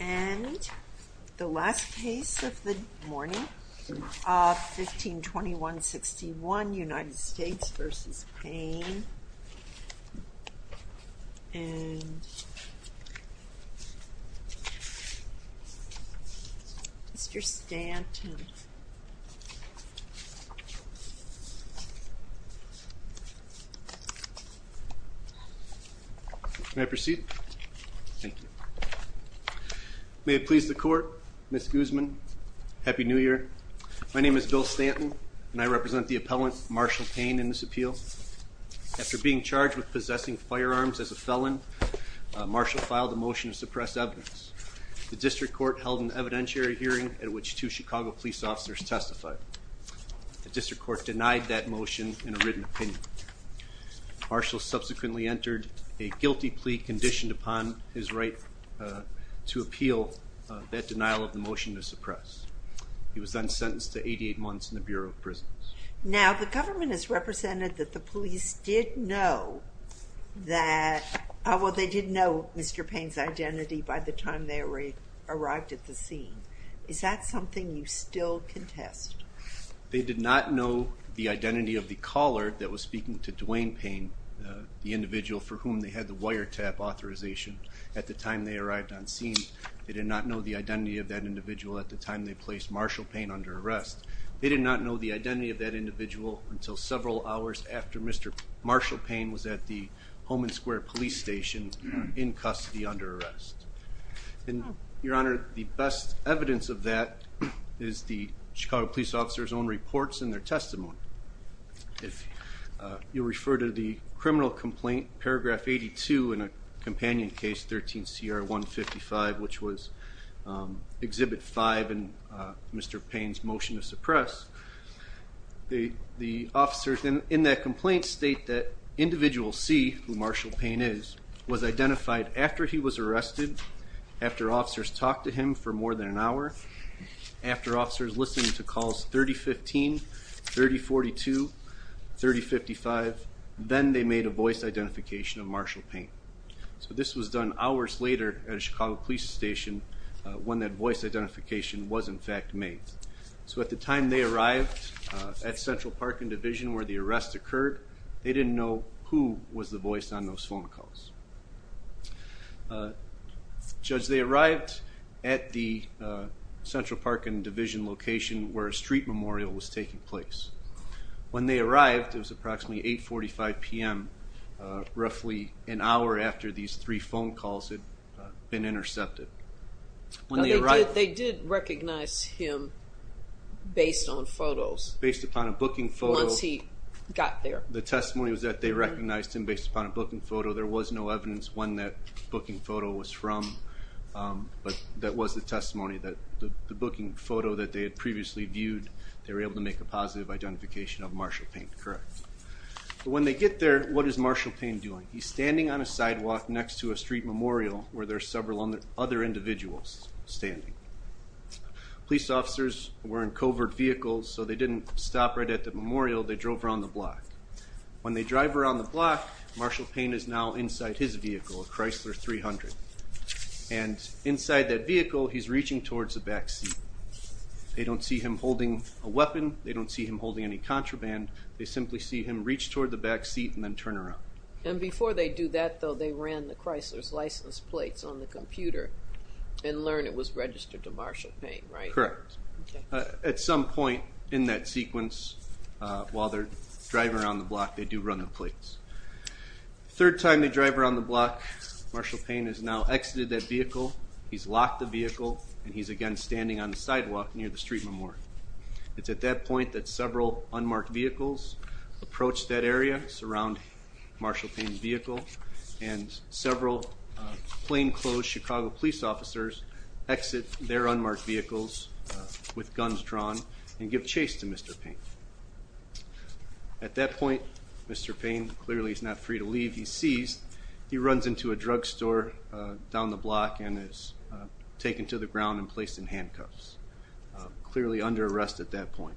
And the last case of the morning, 1521-61, United States v. Payne, and Mr. Stanton. May I proceed? Thank you. May it please the Court, Ms. Guzman, Happy New Year. My name is Bill Stanton, and I represent the appellant, Marshall Payne, in this appeal. After being charged with possessing firearms as a felon, Marshall filed a motion to suppress evidence. The district court held an evidentiary hearing at which two Chicago police officers testified. The district court denied that motion in a written opinion. Marshall subsequently entered a guilty plea conditioned upon his right to appeal that denial of the motion to suppress. He was then sentenced to 88 months in the Bureau of Prisons. Now, the government has represented that the police did know that, well, they did know Mr. Payne's identity by the time they arrived at the scene. Is that something you still contest? They did not know the identity of the caller that was speaking to Duane Payne, the individual for whom they had the wiretap authorization at the time they arrived on scene. They did not know the identity of that individual at the time they placed Marshall Payne under arrest. They did not know the identity of that after Mr. Marshall Payne was at the Holman Square police station in custody under arrest. And, Your Honor, the best evidence of that is the Chicago police officer's own reports and their testimony. If you refer to the criminal complaint, paragraph 82 in a companion case, 13 CR 155, which was Exhibit 5 and Mr. Payne's motion to suppress, the officers in that complaint state that individual C, who Marshall Payne is, was identified after he was arrested, after officers talked to him for more than an hour, after officers listened to calls 3015, 3042, 3055, then they made a voice identification of Marshall Payne. So this was done hours later at a Chicago police station when that voice identification was in fact made. So at the time they arrived at Central Park and Division where the arrest occurred, they didn't know who was the voice on those phone calls. Judge, they arrived at the Central Park and Division location where a street memorial was taking place. When they arrived, it was approximately 845 p.m., roughly an hour after these three phone calls had been intercepted. They did recognize him based on photos. Based upon a booking photo. Once he got there. The testimony was that they recognized him based upon a booking photo. There was no evidence when that booking photo was from, but that was the testimony that the booking photo that they had previously viewed, they were able to make a positive identification of Marshall Payne. Correct. When they get there, what is Marshall Payne doing? He's standing on a sidewalk next to a street memorial where there are several other individuals standing. Police officers were in covert vehicles, so they didn't stop right at the memorial. They drove around the block. When they drive around the block, Marshall Payne is now inside his vehicle, a Chrysler 300. And inside that vehicle, he's reaching towards the back seat. They don't see him holding a weapon. They don't see him holding any contraband. They simply see him reach toward the back seat and then turn around. And before they do that, though, they ran the Chrysler's license plates on the computer and learn it was registered to Marshall Payne, right? Correct. At some point in that sequence, while they're driving around the block, they do run the plates. Third time they drive around the block, Marshall Payne has now exited that vehicle. He's locked the vehicle and he's again standing on the sidewalk near the street memorial. It's at that point that several unmarked vehicles approach that area, surround Marshall Payne's vehicle, and several plainclothes Chicago police officers exit their unmarked vehicles with guns drawn and give chase to Mr. Payne. At that point, Mr. Payne clearly is not free to leave. He's seized. He runs into a drugstore down the block and is taken to the ground and placed in arrest at that point.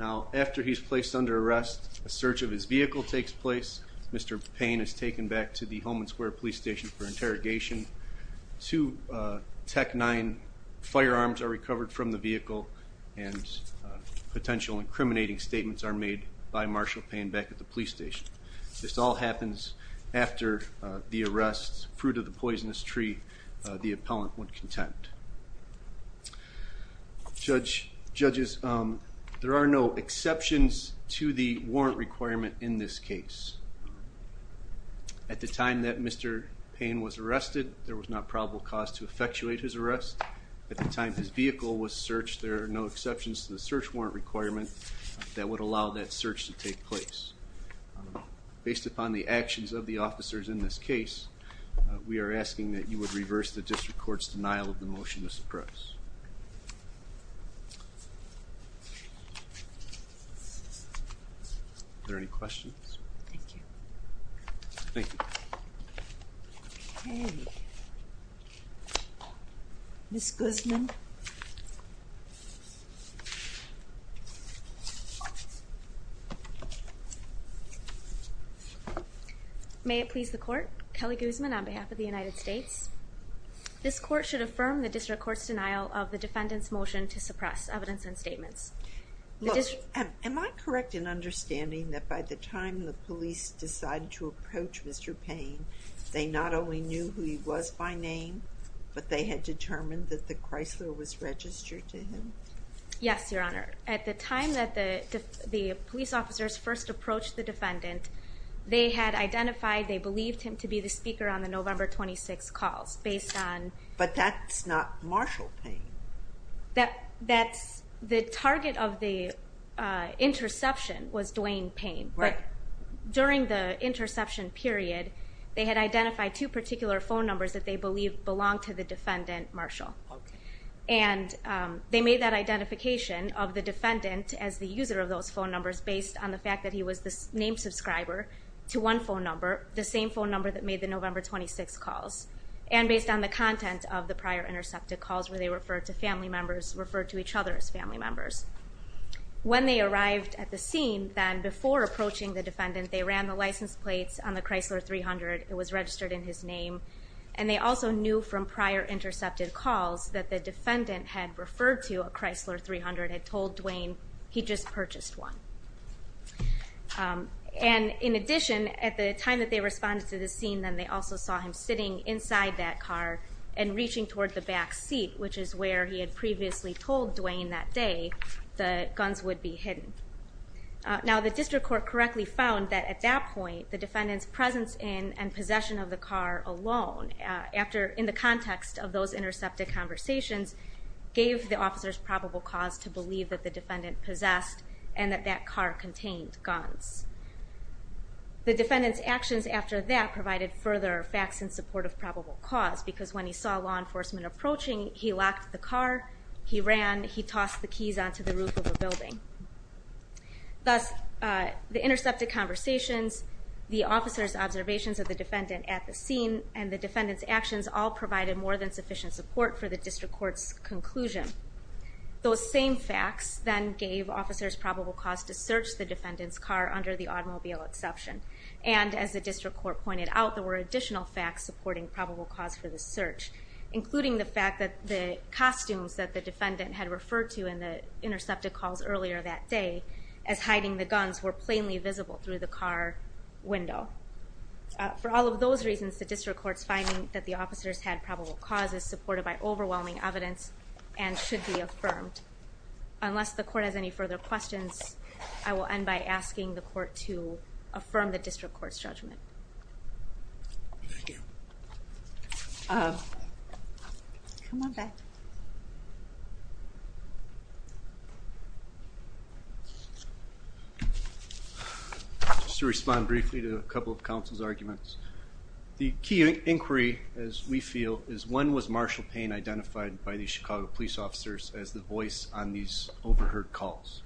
Now, after he's placed under arrest, a search of his vehicle takes place. Mr. Payne is taken back to the Homeland Square Police Station for interrogation. Two Tec-9 firearms are recovered from the vehicle and potential incriminating statements are made by Marshall Payne back at the police station. This all happens after the arrest. Fruit of the Judges, there are no exceptions to the warrant requirement in this case. At the time that Mr. Payne was arrested, there was not probable cause to effectuate his arrest. At the time his vehicle was searched, there are no exceptions to the search warrant requirement that would allow that search to take place. Based upon the actions of the officers in this case, we are asking that you would reverse the district court's denial of the motion to suppress. Are there any questions? Thank you. Thank you. Ms. Guzman. May it please the court. Kelly Guzman on behalf of the United States. This court should affirm the district court's denial of the defendant's motion to suppress evidence and statements. Am I correct in understanding that by the time the police decided to approach Mr. Payne, they not only knew who he was by name, but they had determined that the Chrysler was registered to him? Yes, Your Honor. At the time that the police officers first approached the defendant, they had identified, they believed him to be the target of the interception was Dwayne Payne. During the interception period, they had identified two particular phone numbers that they believed belonged to the defendant, Marshall. They made that identification of the defendant as the user of those phone numbers based on the fact that he was the name subscriber to one phone number, the same phone number that made the November 26 calls, and based on the content of the prior intercepted calls where to family members referred to each other as family members. When they arrived at the scene, then before approaching the defendant, they ran the license plates on the Chrysler 300. It was registered in his name. And they also knew from prior intercepted calls that the defendant had referred to a Chrysler 300, had told Dwayne he just purchased one. And in addition, at the time that they responded to the scene, then they also saw him sitting inside that car and reaching toward the back seat, which is where he had previously told Dwayne that day the guns would be hidden. Now the district court correctly found that at that point, the defendant's presence in and possession of the car alone, in the context of those intercepted conversations, gave the officers probable cause to believe that the defendant possessed and that that car contained guns. The defendant's actions after that provided further facts in support of probable cause, because when he saw law enforcement approaching, he locked the car, he ran, he tossed the keys onto the roof of a building. Thus, the intercepted conversations, the officer's observations of the defendant at the scene, and the defendant's actions all provided more than sufficient support for the district court's conclusion. Those same facts then gave officers probable cause to search the defendant's car under the automobile exception. And as the district court pointed out, there were additional facts supporting probable cause for the search, including the fact that the costumes that the defendant had referred to in the intercepted calls earlier that day as hiding the guns were plainly visible through the car window. For all of those reasons, the district court's finding that the officers had probable causes supported by overwhelming evidence and should be affirmed. Unless the court has any further questions, I will end by asking the court to affirm the district court's judgment. Thank you. Come on back. Just to respond briefly to a couple of counsel's arguments. The key inquiry, as we feel, is when was Marshall Payne identified by the Chicago police officers as the voice on these overheard calls?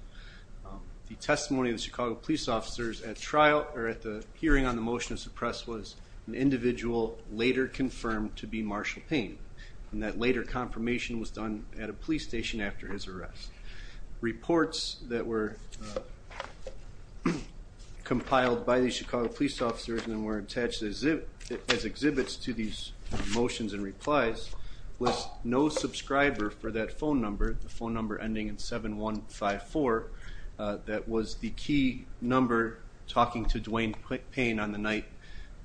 The testimony of the Chicago police officers at trial, or at the hearing on the motion of the press, was an individual later confirmed to be Marshall Payne. And that later confirmation was done at a police station after his arrest. Reports that were compiled by the Chicago police officers and were attached as exhibits to these motions and replies was no subscriber for that phone number, the phone number ending in 7154, that was the key number talking to Dwayne Payne on the night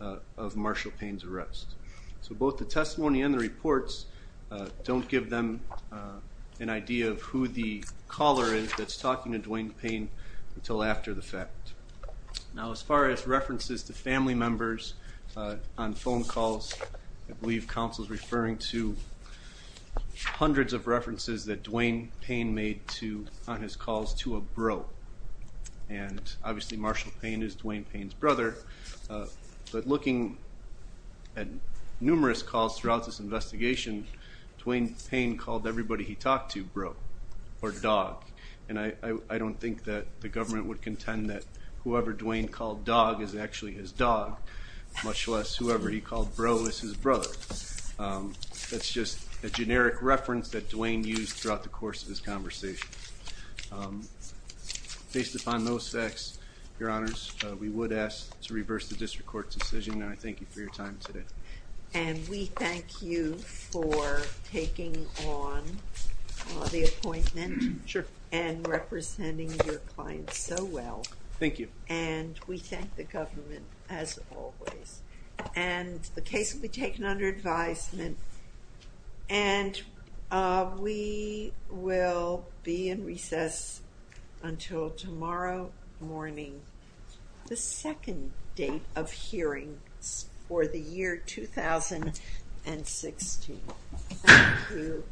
of Marshall Payne's arrest. So both the testimony and the reports don't give them an idea of who the caller is that's talking to Dwayne Payne until after the fact. Now as far as references to family members on phone calls, I believe counsel's referring to hundreds of references that Dwayne Payne made on his calls to a bro. And obviously Marshall Payne is Dwayne Payne's brother. But looking at numerous calls throughout this investigation, Dwayne Payne called everybody he talked to bro or dog. And I don't think that the government would contend that whoever Dwayne called dog is actually his dog, much less whoever he called bro is his brother. That's just a generic reference that Dwayne used throughout the course of this conversation. Based upon those facts, your honors, we would ask to reverse the district court's decision and I thank you for your time today. And we thank you for taking on the appointment. Sure. And representing your clients so well. Thank you. And we thank the will be in recess until tomorrow morning, the second date of hearing for the year 2016. Thank you.